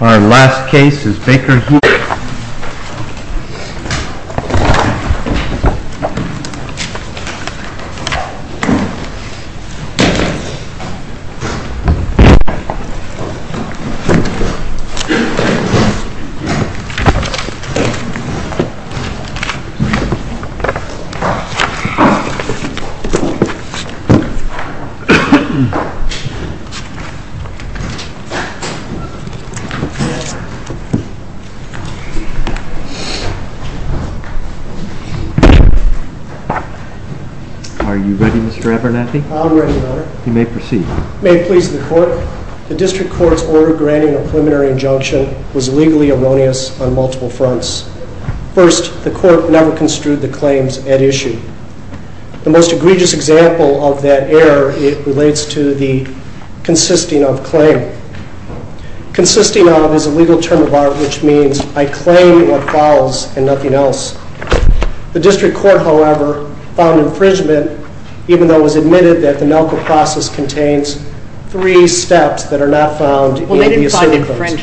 Our last case is Baker-Hughes The District Court's order granting a preliminary injunction was legally erroneous on multiple fronts. First, the Court never construed the claims at issue. The most egregious example of that error relates to the consisting of claim. Consisting of is a legal term of art which means I claim what follows and nothing else. The District Court, however, found infringement even though it was admitted that the Nalco process contains three steps that are not found in the Assembly Claims.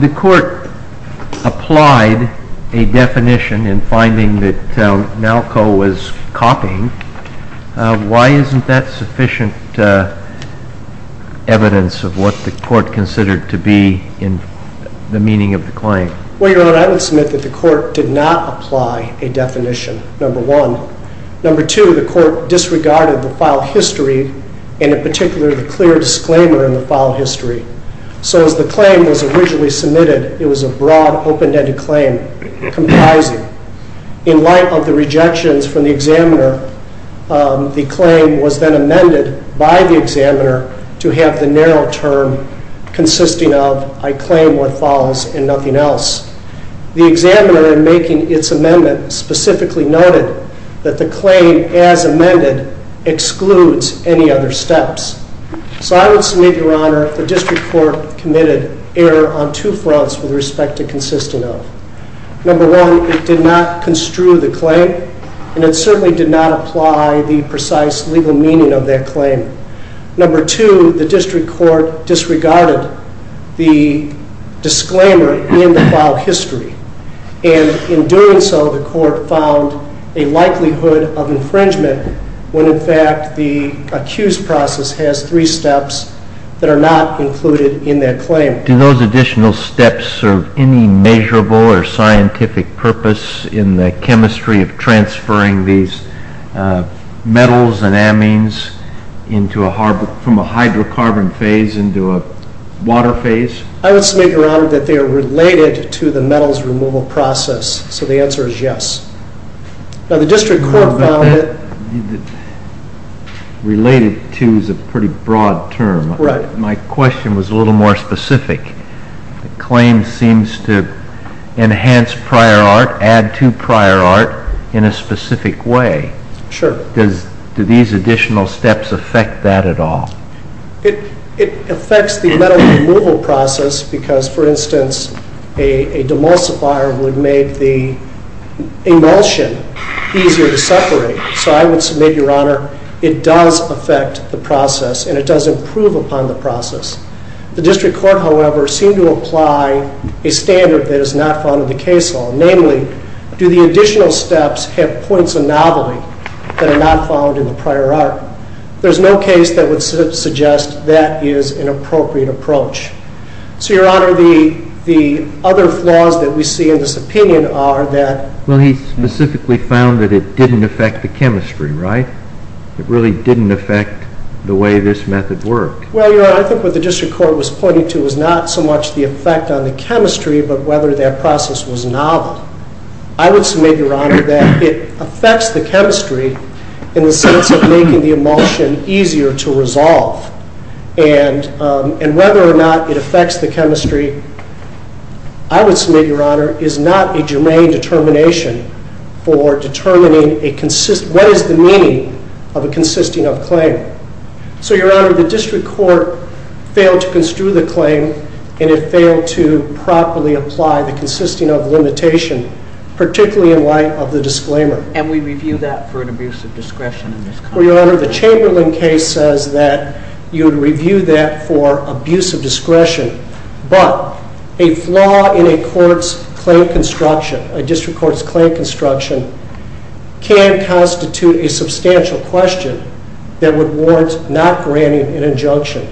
The court applied a definition in finding that Nalco was copying. Why isn't that sufficient evidence of what the court considered to be in the meaning of the claim? Well, Your Honor, I would submit that the court did not apply a definition, number one. Number two, the court disregarded the file history and, in particular, the clear disclaimer in the file history. So as the claim was originally submitted, it was a broad, open-ended claim comprising. In light of the rejections from the examiner, the claim was then amended by the examiner to have the narrow term consisting of I claim what follows and nothing else. The examiner, in making its amendment, specifically noted that the claim as amended excludes any other steps. So I would submit, Your Honor, the District Court committed error on two fronts with respect to consisting of. Number one, it did not construe the claim and it certainly did not apply the precise legal meaning of that claim. Number two, the District Court disregarded the disclaimer in the file history and, in doing so, the court found a likelihood of infringement when, in fact, the accused process has three steps that are not included in that claim. Do those additional steps serve any measurable or scientific purpose in the chemistry of the claim? From a hydrocarbon phase into a water phase? I would submit, Your Honor, that they are related to the metals removal process. So the answer is yes. Now, the District Court found that... Related to is a pretty broad term. My question was a little more specific. The claim seems to enhance prior art, add to prior art in a specific way. Sure. Do these additional steps affect that at all? It affects the metal removal process because, for instance, a demulsifier would make the emulsion easier to separate. So I would submit, Your Honor, it does affect the process and it does improve upon the process. The District Court, however, seemed to apply a standard that is not found in the case law, namely, do the additional steps have points of novelty that are not found in the prior art? There's no case that would suggest that is an appropriate approach. So, Your Honor, the other flaws that we see in this opinion are that... Well, he specifically found that it didn't affect the chemistry, right? It really didn't affect the way this method worked. Well, Your Honor, I think what the District Court was pointing to was not so much the fact that that process was novel. I would submit, Your Honor, that it affects the chemistry in the sense of making the emulsion easier to resolve. And whether or not it affects the chemistry, I would submit, Your Honor, is not a germane determination for determining what is the meaning of a consisting of claim. So Your Honor, the District Court failed to construe the claim and it failed to properly apply the consisting of limitation, particularly in light of the disclaimer. And we review that for an abuse of discretion in this context. Well, Your Honor, the Chamberlain case says that you would review that for abuse of discretion. But a flaw in a court's claim construction, a District Court's claim construction, can constitute a substantial question that would warrant not granting an injunction.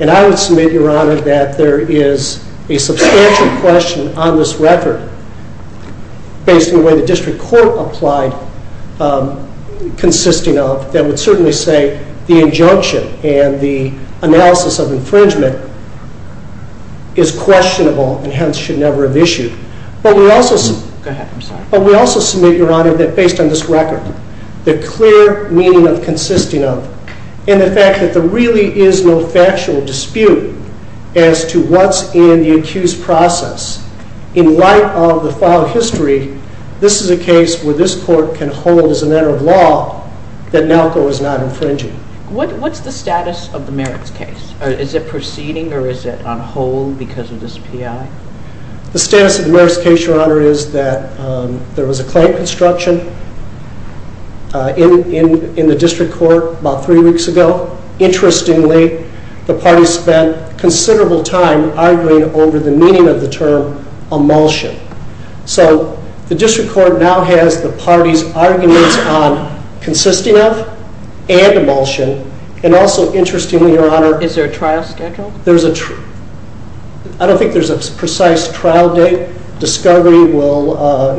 And I would submit, Your Honor, that there is a substantial question on this record based on the way the District Court applied consisting of that would certainly say the injunction and the analysis of infringement is questionable and hence should never have issued. Go ahead. I'm sorry. But we also submit, Your Honor, that based on this record, the clear meaning of consisting of and the fact that there really is no factual dispute as to what's in the accused process in light of the file history, this is a case where this court can hold as a matter of law that NALCO is not infringing. What's the status of the merits case? Is it proceeding or is it on hold because of this PI? The status of the merits case, Your Honor, is that there was a claim construction in the District Court about three weeks ago. Interestingly, the parties spent considerable time arguing over the meaning of the term emulsion. So the District Court now has the parties' arguments on consisting of and emulsion. And also, interestingly, Your Honor- Is there a trial schedule? I don't think there's a precise trial date, discovery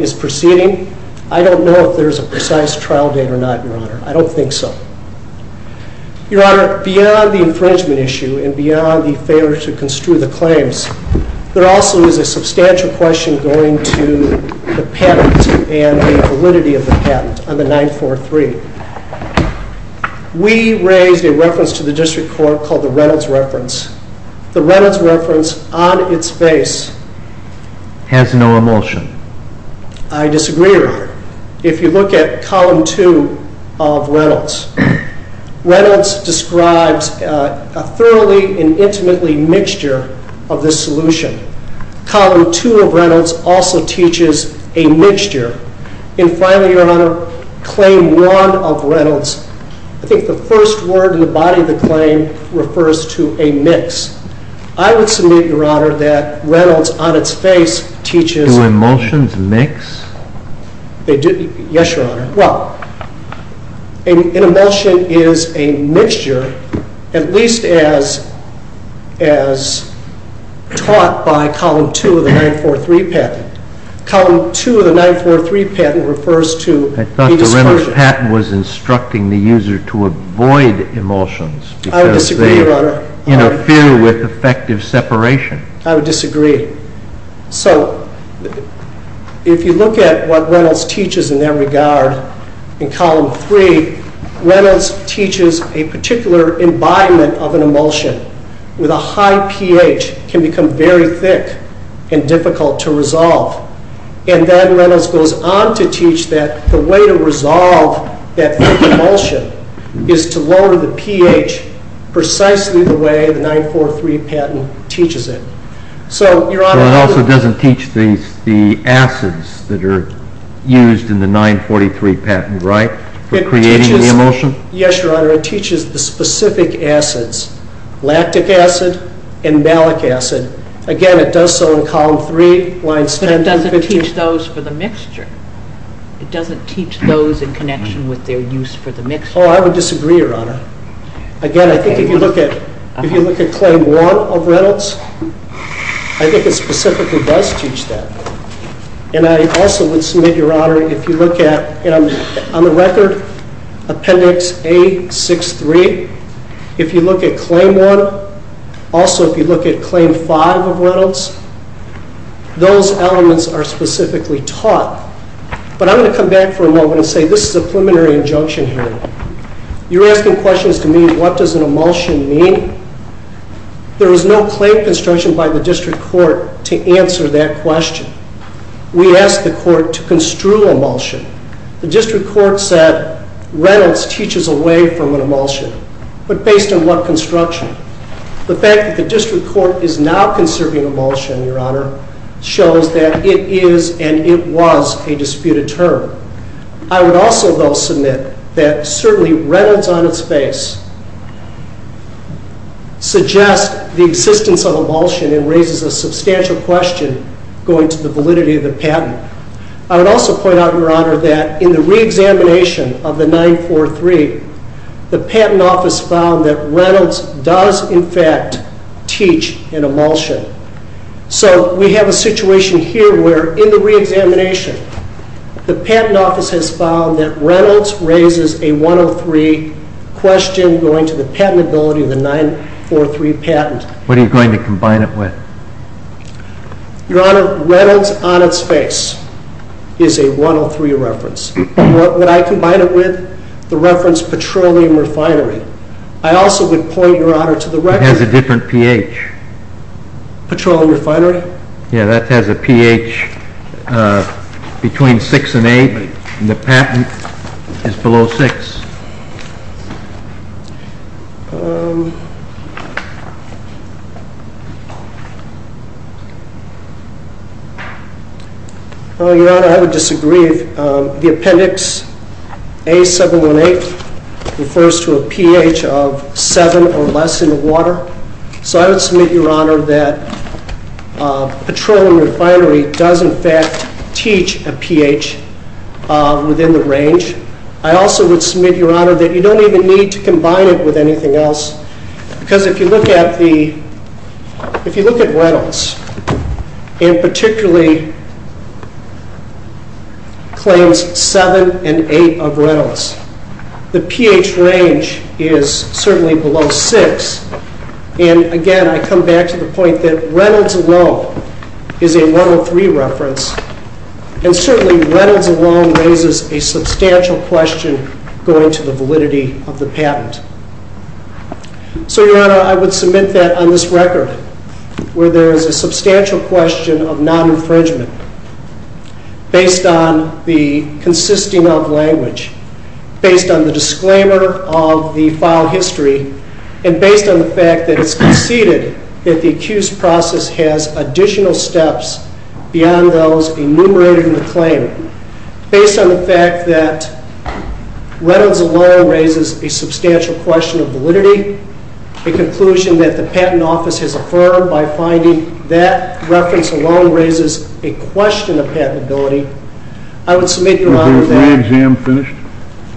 is proceeding. I don't know if there's a precise trial date or not, Your Honor. I don't think so. Your Honor, beyond the infringement issue and beyond the failure to construe the claims, there also is a substantial question going to the patent and the validity of the patent on the 943. We raised a reference to the District Court called the Reynolds reference. The Reynolds reference, on its face, has no emulsion. I disagree, Your Honor. If you look at Column 2 of Reynolds, Reynolds describes a thoroughly and intimately mixture of this solution. Column 2 of Reynolds also teaches a mixture. And finally, Your Honor, Claim 1 of Reynolds, I think the first word in the body of the claim refers to a mix. I would submit, Your Honor, that Reynolds, on its face, teaches- Do emulsions mix? Yes, Your Honor. Well, an emulsion is a mixture, at least as taught by Column 2 of the 943 patent. Column 2 of the 943 patent refers to a dispersion. I thought the Reynolds patent was instructing the user to avoid emulsions. I would disagree, Your Honor. Because they interfere with effective separation. I would disagree. So, if you look at what Reynolds teaches in that regard, in Column 3, Reynolds teaches a particular embodiment of an emulsion with a high pH can become very thick and difficult to resolve. And then Reynolds goes on to teach that the way to resolve that thick emulsion is to lower the pH precisely the way the 943 patent teaches it. So, Your Honor- But it also doesn't teach the acids that are used in the 943 patent, right? For creating the emulsion? Yes, Your Honor. It teaches the specific acids. Lactic acid and malic acid. Again, it does so in Column 3. But it doesn't teach those for the mixture. It doesn't teach those in connection with their use for the mixture. Oh, I would disagree, Your Honor. Again, I think if you look at Claim 1 of Reynolds, I think it specifically does teach that. And I also would submit, Your Honor, if you look at, on the record, Appendix A63, if you look at Claim 1, also if you look at Claim 5 of Reynolds, those elements are specifically taught. But I'm going to come back for a moment and say this is a preliminary injunction here. You're asking questions to me, what does an emulsion mean? There is no claim construction by the District Court to answer that question. We asked the Court to construe emulsion. The District Court said Reynolds teaches away from an emulsion. But based on what construction? The fact that the District Court is now conserving emulsion, Your Honor, shows that it is and it was a disputed term. I would also, though, submit that certainly Reynolds on its face suggests the existence of emulsion and raises a substantial question going to the validity of the patent. I would also point out, Your Honor, that in the re-examination of the 943, the Patent Office found that Reynolds does, in fact, teach an emulsion. So we have a situation here where, in the re-examination, the Patent Office has found that Reynolds raises a 103 question going to the patentability of the 943 patent. What are you going to combine it with? Your Honor, Reynolds on its face is a 103 reference. What would I combine it with? The reference petroleum refinery. I also would point, Your Honor, to the reference It has a different pH. Petroleum refinery? Yeah, that has a pH between 6 and 8. The patent is below 6. Your Honor, I would disagree. The appendix A718 refers to a pH of 7 or less in the water. So I would submit, Your Honor, that petroleum refinery does, in fact, teach a pH within the range. I also would submit, Your Honor, that you don't even need to combine it with anything else. Because if you look at Reynolds, and particularly claims 7 and 8 of Reynolds, the pH range is certainly below 6. And, again, I come back to the point that Reynolds alone is a 103 reference. And certainly Reynolds alone raises a substantial question going to the validity of the patent. So, Your Honor, I would submit that on this record, where there is a substantial question of non-infringement, based on the consisting of language. Based on the disclaimer of the file history. And based on the fact that it's conceded that the accused process has additional steps beyond those enumerated in the claim. Based on the fact that Reynolds alone raises a substantial question of validity. The conclusion that the patent office has affirmed by finding that reference alone raises a question of patentability. I would submit, Your Honor, that... Is the re-exam finished?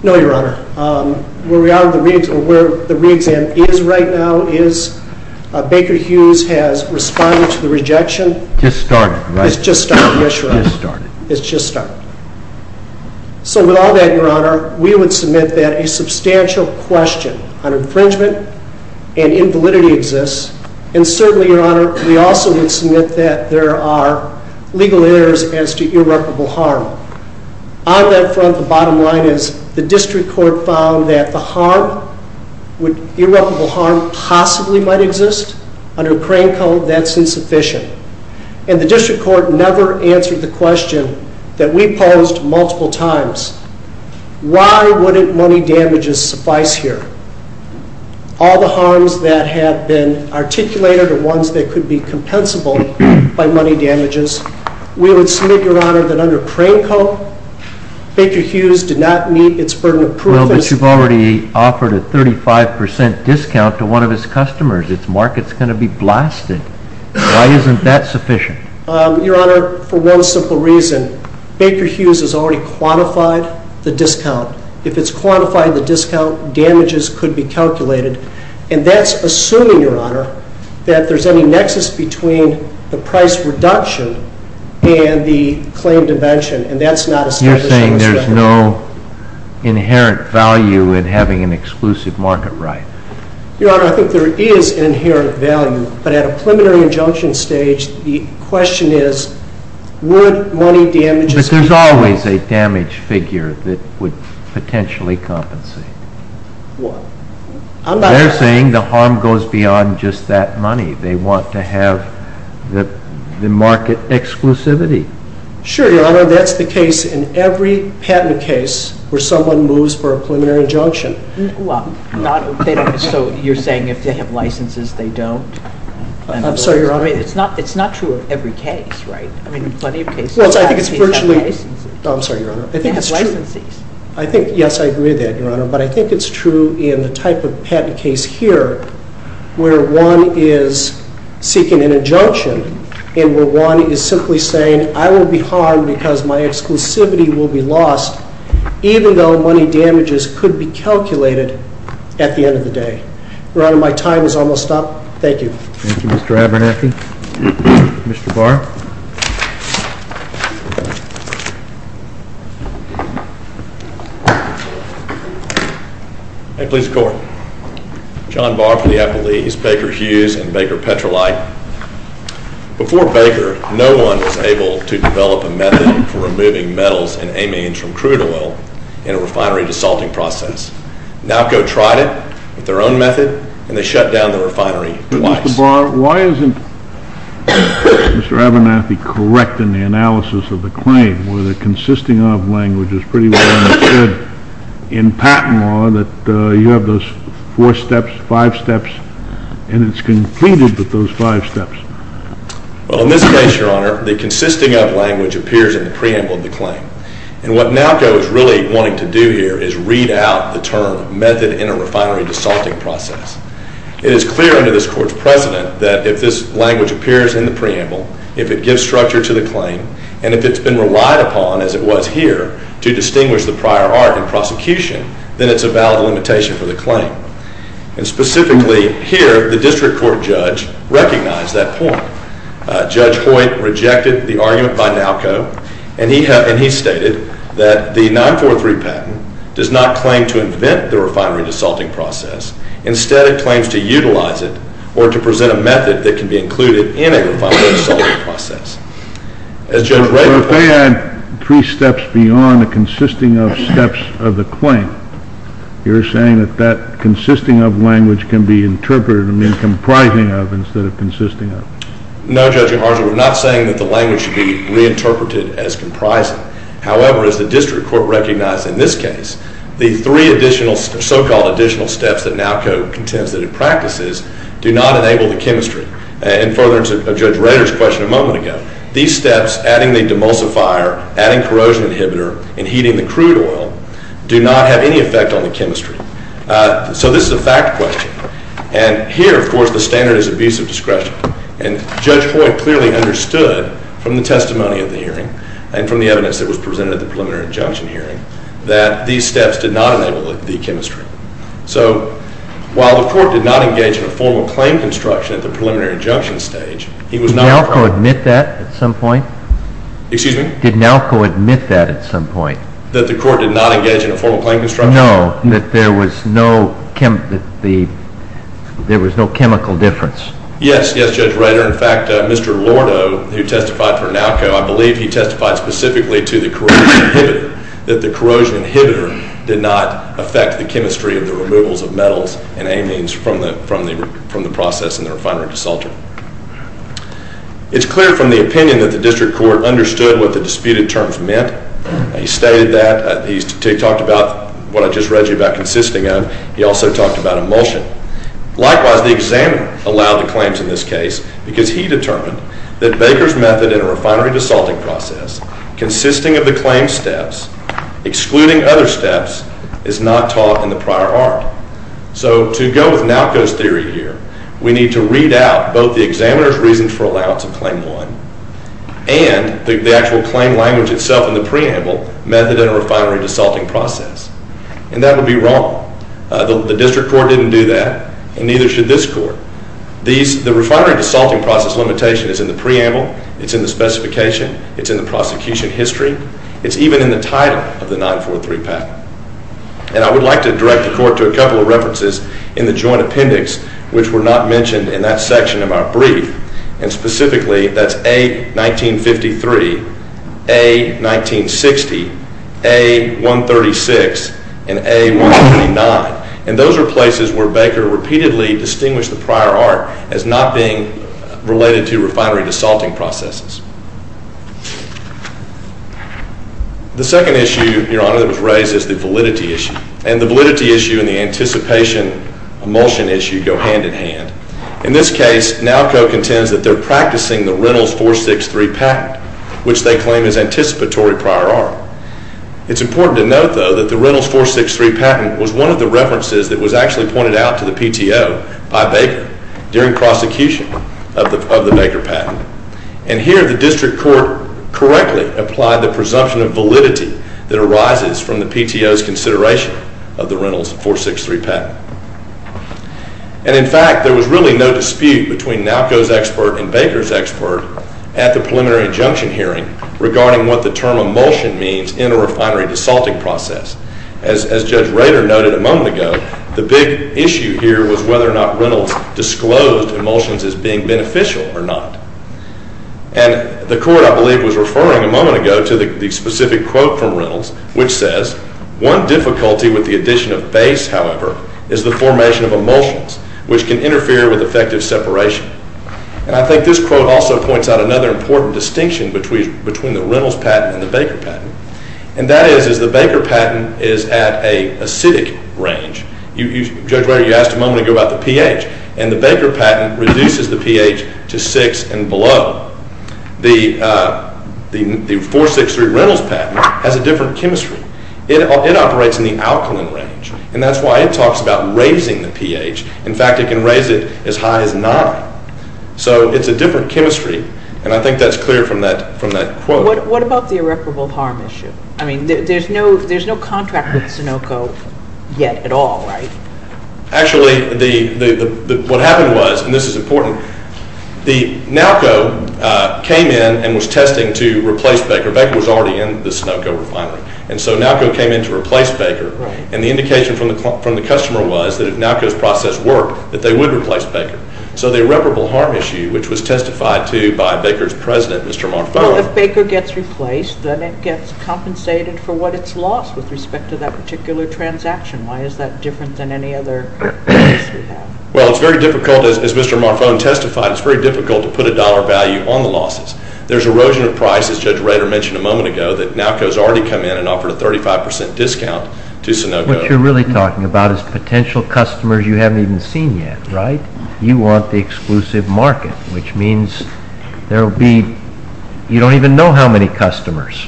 No, Your Honor. Where the re-exam is right now is Baker Hughes has responded to the rejection. It's just started, right? It's just started, yes, Your Honor. It's just started. It's just started. So, with all that, Your Honor, we would submit that a substantial question on infringement and invalidity exists. And certainly, Your Honor, we also would submit that there are legal errors as to irreparable harm. On that front, the bottom line is the district court found that the harm, irreparable harm, possibly might exist. Under crane code, that's insufficient. And the district court never answered the question that we posed multiple times. Why wouldn't money damages suffice here? All the harms that have been articulated are ones that could be compensable by money damages. We would submit, Your Honor, that under crane code, Baker Hughes did not meet its burden of proof. Well, but you've already offered a 35% discount to one of its customers. Its market's going to be blasted. Why isn't that sufficient? Your Honor, for one simple reason. Baker Hughes has already quantified the discount. If it's quantified the discount, damages could be calculated. And that's assuming, Your Honor, that there's any nexus between the price reduction and the claim dimension. And that's not a statutory scrutiny. You're saying there's no inherent value in having an exclusive market right? Your Honor, I think there is an inherent value. But at a preliminary injunction stage, the question is, would money damages be compensable? But there's always a damage figure that would potentially compensate. What? They're saying the harm goes beyond just that money. They want to have the market exclusivity. Sure, Your Honor, that's the case in every patent case where someone moves for a preliminary injunction. Well, so you're saying if they have licenses, they don't? I'm sorry, Your Honor. It's not true of every case, right? I mean, plenty of cases. Well, I think it's virtually. I'm sorry, Your Honor. They have licenses. Yes, I agree with that, Your Honor. But I think it's true in the type of patent case here where one is seeking an injunction and where one is simply saying, I will be harmed because my exclusivity will be lost even though money damages could be calculated at the end of the day. Your Honor, my time is almost up. Thank you. Thank you, Mr. Abernathy. Mr. Barr. I plead the court. John Barr for the Appellees, Baker Hughes and Baker Petrolite. Before Baker, no one was able to develop a method for removing metals and amines from crude oil in a refinery desalting process. Nowco tried it with their own method and they shut down the refinery twice. Mr. Barr, why isn't Mr. Abernathy correct in the analysis of the claim where the consisting of language is pretty well understood in patent law that you have those four steps, five steps and it's completed with those five steps? Well, in this case, Your Honor, the consisting of language appears in the preamble of the claim. And what Nowco is really wanting to do here is read out the term method in a refinery desalting process. It is clear under this court's precedent that if this language appears in the preamble, if it gives structure to the claim and if it's been relied upon, as it was here, to distinguish the prior art in prosecution, then it's a valid limitation for the claim. And specifically here, the district court judge recognized that point. Judge Hoyt rejected the argument by Nowco and he stated that the 943 patent does not claim to invent the refinery desalting process. Instead, it claims to utilize it or to present a method that can be included in a refinery desalting process. If they add three steps beyond the consisting of steps of the claim, you're saying that that consisting of language can be interpreted, I mean comprising of, instead of consisting of? No, Judge Yoharza, we're not saying that the language should be reinterpreted as comprising. However, as the district court recognized in this case, the three additional, so-called additional steps that Nowco contends that it practices do not enable the chemistry. And further to Judge Rader's question a moment ago, these steps, adding the demulsifier, adding corrosion inhibitor, and heating the crude oil do not have any effect on the chemistry. So this is a fact question. And here, of course, the standard is abusive discretion. And Judge Hoyt clearly understood from the testimony of the hearing and from the evidence that was presented at the preliminary injunction hearing that these steps did not enable the chemistry. So while the court did not engage in a formal claim construction at the preliminary injunction stage, Nowco admit that at some point? Excuse me? Did Nowco admit that at some point? That the court did not engage in a formal claim construction? No, that there was no chemical difference. Yes, yes, Judge Rader. In fact, Mr. Lordo, who testified for Nowco, I believe he testified specifically to the corrosion inhibitor, that the corrosion inhibitor did not affect the chemistry of the removals of metals and amines from the process in the refinery and desalter. It's clear from the opinion that the district court understood what the disputed terms meant. He stated that. He talked about what I just read you about consisting of. He also talked about emulsion. Likewise, the examiner allowed the claims in this case because he determined that Baker's method in a refinery desalting process consisting of the claimed steps excluding other steps is not taught in the prior art. So to go with Nowco's theory here, we need to read out both the examiner's reason for allowance of claim one and the actual claim language itself in the preamble method in a refinery desalting process. And that would be wrong. The district court didn't do that and neither should this court. The refinery desalting process limitation is in the preamble, it's in the specification, it's in the prosecution history, it's even in the title of the 943 patent. And I would like to direct the court to a couple of references in the joint appendix which were not mentioned in that section of our brief and specifically that's A1953, A1960, A136 and A129. And those are places where Baker repeatedly distinguished the prior art as not being related to refinery desalting processes. The second issue, Your Honor, that was raised is the validity issue. And the validity issue and the anticipation emulsion issue go hand in hand. In this case, NALCO contends that they're practicing the Reynolds 463 patent which they claim is anticipatory prior art. It's important to note though that the Reynolds 463 patent was one of the references that was actually pointed out to the PTO by Baker Baker patent. And here the district court correctly applied the presumption of validity that arises from the PTO's consideration of the Reynolds 463 patent. And in fact, there was really no dispute between NALCO's expert and Baker's expert at the preliminary injunction hearing regarding what the term emulsion means in a refinery desalting process. As Judge Rader noted a moment ago, the big issue here was whether or not Reynolds disclosed emulsions as being beneficial or not. And the court, I believe, was referring a moment ago to the one difficulty with the addition of base, however, is the formation of emulsions which can interfere with effective separation. And I think this quote also points out another important distinction between the Reynolds patent and the Baker patent. And that is the Baker patent is at an acidic range. Judge Rader, you asked a moment ago about the pH. And the Baker patent reduces the pH to 6 and below. The 463 Reynolds patent has a different chemistry. It operates in the alkaline range. And that's why it talks about raising the pH. In fact, it can raise it as high as 9. So it's a different chemistry. And I think that's clear from that quote. What about the irreparable harm issue? I mean, there's no contract with Sunoco yet at all, right? Actually, what happened was, and this is important, the NALCO came in and was testing to NALCO refinery. And so NALCO came in to replace Baker. And the indication from the customer was that if NALCO's process worked, that they would replace Baker. So the irreparable harm issue, which was testified to by Baker's president, Mr. Marfone. Well, if Baker gets replaced, then it gets compensated for what it's lost with respect to that particular transaction. Why is that different than any other? Well, it's very difficult, as Mr. Marfone testified, it's very difficult to put a dollar value on the losses. There's erosion of price, as Judge Rader mentioned a moment ago, that NALCO's already come in and offered a 35% discount to Sunoco. What you're really talking about is potential customers you haven't even seen yet, right? You want the exclusive market, which means there will be you don't even know how many customers.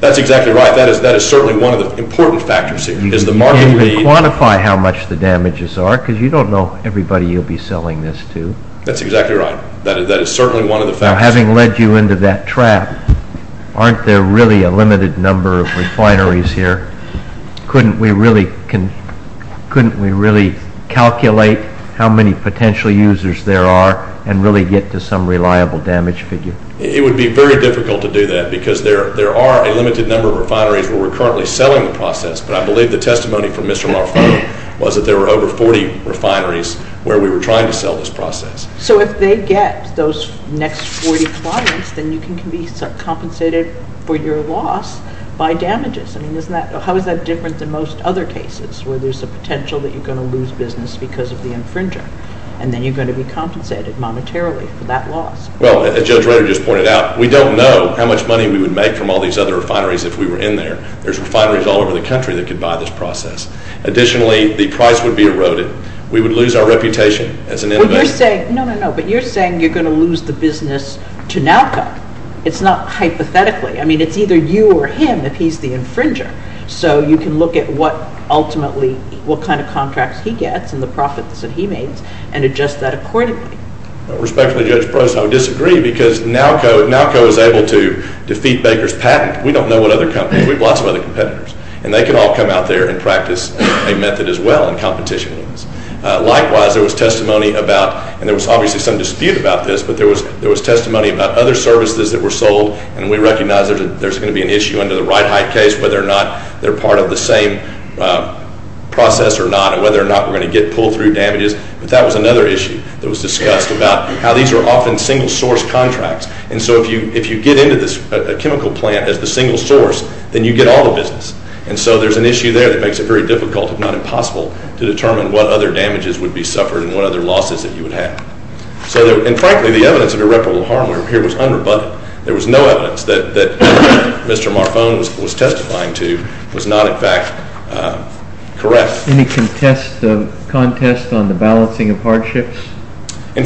That's exactly right. That is certainly one of the important factors here. You can't even quantify how much the damages are, because you don't know everybody you'll be selling this to. That's exactly right. That is certainly one of the factors. Now, having led you into that trap, aren't there really a limited number of refineries here? Couldn't we really calculate how many potential users there are and really get to some reliable damage figure? It would be very difficult to do that, because there are a limited number of refineries where we're currently selling the process, but I believe the testimony from Mr. Marfone was that there were over 40 refineries where we were trying to sell this process. So if they get those next 40 clients, then you can be compensated for your loss by damages. I mean, isn't that how is that different than most other cases where there's a potential that you're going to lose business because of the infringer, and then you're going to be compensated monetarily for that loss? Well, as Judge Rutter just pointed out, we don't know how much money we would make from all these other refineries if we were in there. There's refineries all over the country that could buy this process. Additionally, the price would be eroded. We would lose our No, no, no, but you're saying you're going to lose the business to NALCO. It's not hypothetically. I mean, it's either you or him if he's the infringer. So you can look at what ultimately what kind of contracts he gets and the profits that he makes and adjust that accordingly. Respectfully, Judge Prost, I would disagree, because NALCO is able to defeat Baker's patent. We don't know what other companies. We have lots of other competitors, and they can all come out there and practice a method as well in competition. Likewise, there was testimony about, and there was obviously some dispute about this, but there was testimony about other services that were sold, and we recognize there's going to be an issue under the Ride Height case, whether or not they're part of the same process or not, and whether or not we're going to get pulled through damages. But that was another issue that was discussed about how these are often single-source contracts. And so if you get into a chemical plant as the single source, then you get all the business. And so there's an issue there that makes it very difficult, if not impossible, to determine what other damages would be suffered and what other losses that you would have. And frankly, the evidence of irreparable harm here was unrebutted. There was no evidence that Mr. Marfone was testifying to was not, in fact, correct. Any contest on the balancing of hardships? No,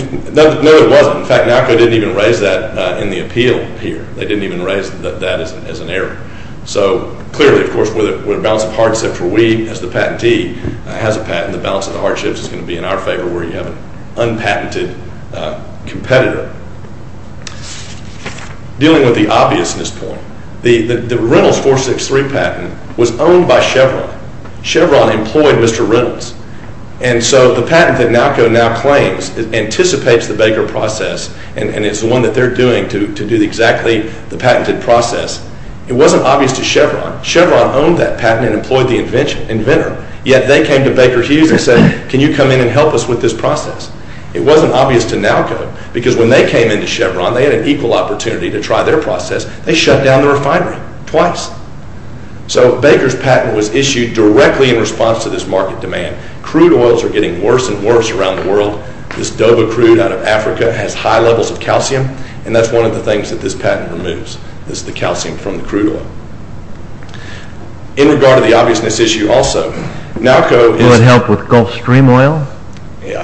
there wasn't. In fact, NALCO didn't even raise that in the appeal here. They didn't even raise that as an error. So clearly, of course, with a balance of hardship except for we as the patentee has a patent, the balance of the hardships is going to be in our favor where you have an unpatented competitor. Dealing with the obviousness point, the Reynolds 463 patent was owned by Chevron. Chevron employed Mr. Reynolds. And so the patent that NALCO now claims anticipates the Baker process and is the one that they're doing to do exactly the patented process. It wasn't obvious to Chevron. Chevron owned that patent and employed the inventor. Yet they came to Baker Hughes and said, can you come in and help us with this process? It wasn't obvious to NALCO because when they came into Chevron they had an equal opportunity to try their process. They shut down the refinery twice. So Baker's patent was issued directly in response to this market demand. Crude oils are getting worse and worse around the world. This Dover crude out of Africa has high levels of calcium and that's one of the things that this patent removes is the calcium from the crude oil. In regard to the obviousness issue also, NALCO... Will it help with Gulf Stream oil? You know,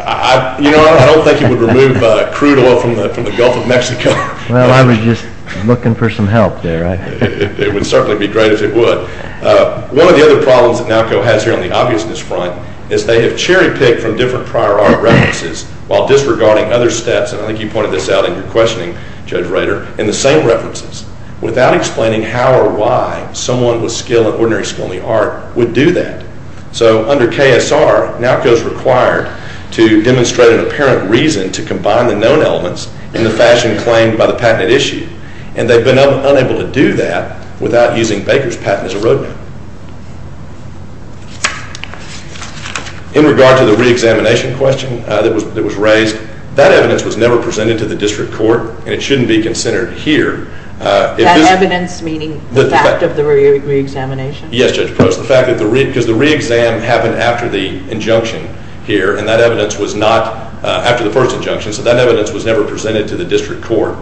I don't think it would remove crude oil from the Gulf of Mexico. Well, I was just looking for some help there. It would certainly be great if it would. One of the other problems that NALCO has here on the obviousness front is they have cherry picked from different prior art references while disregarding other stats, and I think you pointed this out in your questioning, Judge Rader, in the same references without explaining how or why someone with skill and ordinary skill in the art would do that. So under KSR, NALCO is required to demonstrate an apparent reason to combine the known elements in the fashion claimed by the patented issue, and they've been unable to do that without using Baker's patent as a road map. In regard to the re-examination question that was raised, that evidence was never presented to the district court, and it shouldn't be considered here. That evidence meaning the fact of the re-examination? Yes, Judge Probst, the fact that the re-exam happened after the injunction here, and that evidence was not after the first injunction, so that evidence was never presented to the district court,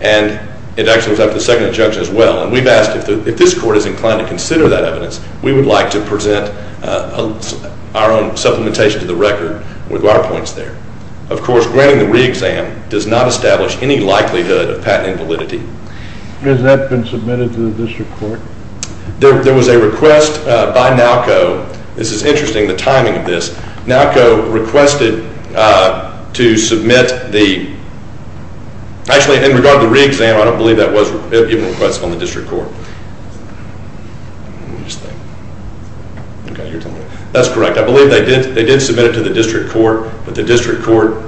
and it actually was after the second injunction as well, and we've asked if this court is inclined to consider that evidence, we would like to present our own supplementation to the record with our points there. Of course, granting the re-exam does not establish any likelihood of patent invalidity. Has that been submitted to the district court? There was a request by NALCO, this is interesting, the timing of this, NALCO requested to submit the actually in regard to the re-exam, I don't believe that was a request from the district court. Let me just think. Okay, you're telling me. That's correct. I believe they did submit it to the district court, but the district court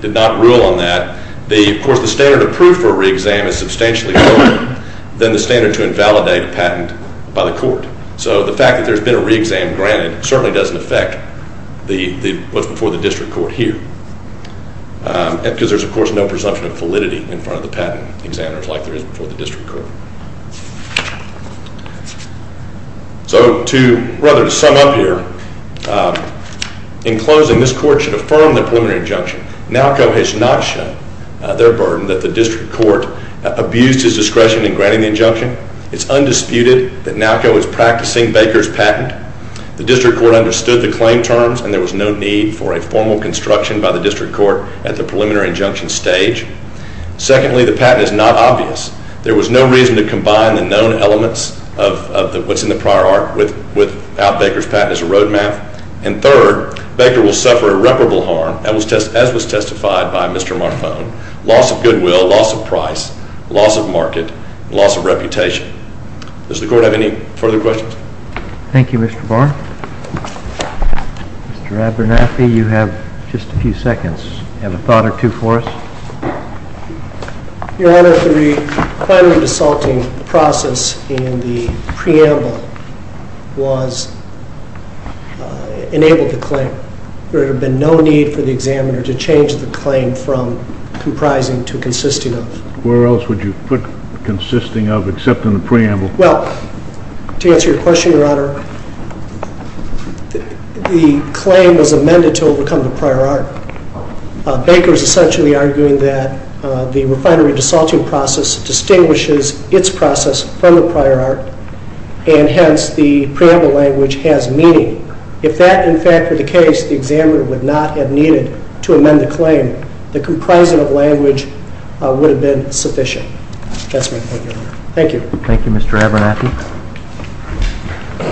did not rule on that. Of course, the standard approved for a re-exam is substantially lower than the standard to invalidate a patent by the court. So the fact that there's been a re-exam granted certainly doesn't affect what's before the district court here. Because there's of course no presumption of validity in front of the patent examiners like there is before the district court. So to rather to sum up here, in closing, this court should affirm the preliminary injunction. NALCO has not shown their burden that the district court abused his discretion in granting the injunction. It's undisputed that NALCO is practicing Baker's patent. The district court understood the claim terms and there was no need for a formal construction by the district court at the preliminary injunction stage. Secondly, the patent is not obvious. There was no reason to combine the known elements of what's in the prior art with out Baker's patent as a road map. And third, Baker will suffer irreparable harm as was testified by Mr. Marfone. Loss of goodwill, loss of price, loss of market, loss of reputation. Does the court have any further questions? Thank you, Mr. Barn. Mr. Abernathy, you have just a few seconds. You have a thought or two for us? Your Honor, the primary assaulting process in the prior art process enabled the claim. There had been no need for the examiner to change the claim from comprising to consisting of. Where else would you put consisting of except in the preamble? Well, to answer your question, Your Honor, the claim was amended to overcome the prior art. Baker is essentially arguing that the refinery assaulting process distinguishes its process from the prior art and hence the preamble language has meaning. If that, in fact, were the case, the examiner would not have needed to amend the claim. The comprising of language would have been sufficient. That's my point, Your Honor. Thank you. Thank you, Mr. Abernathy.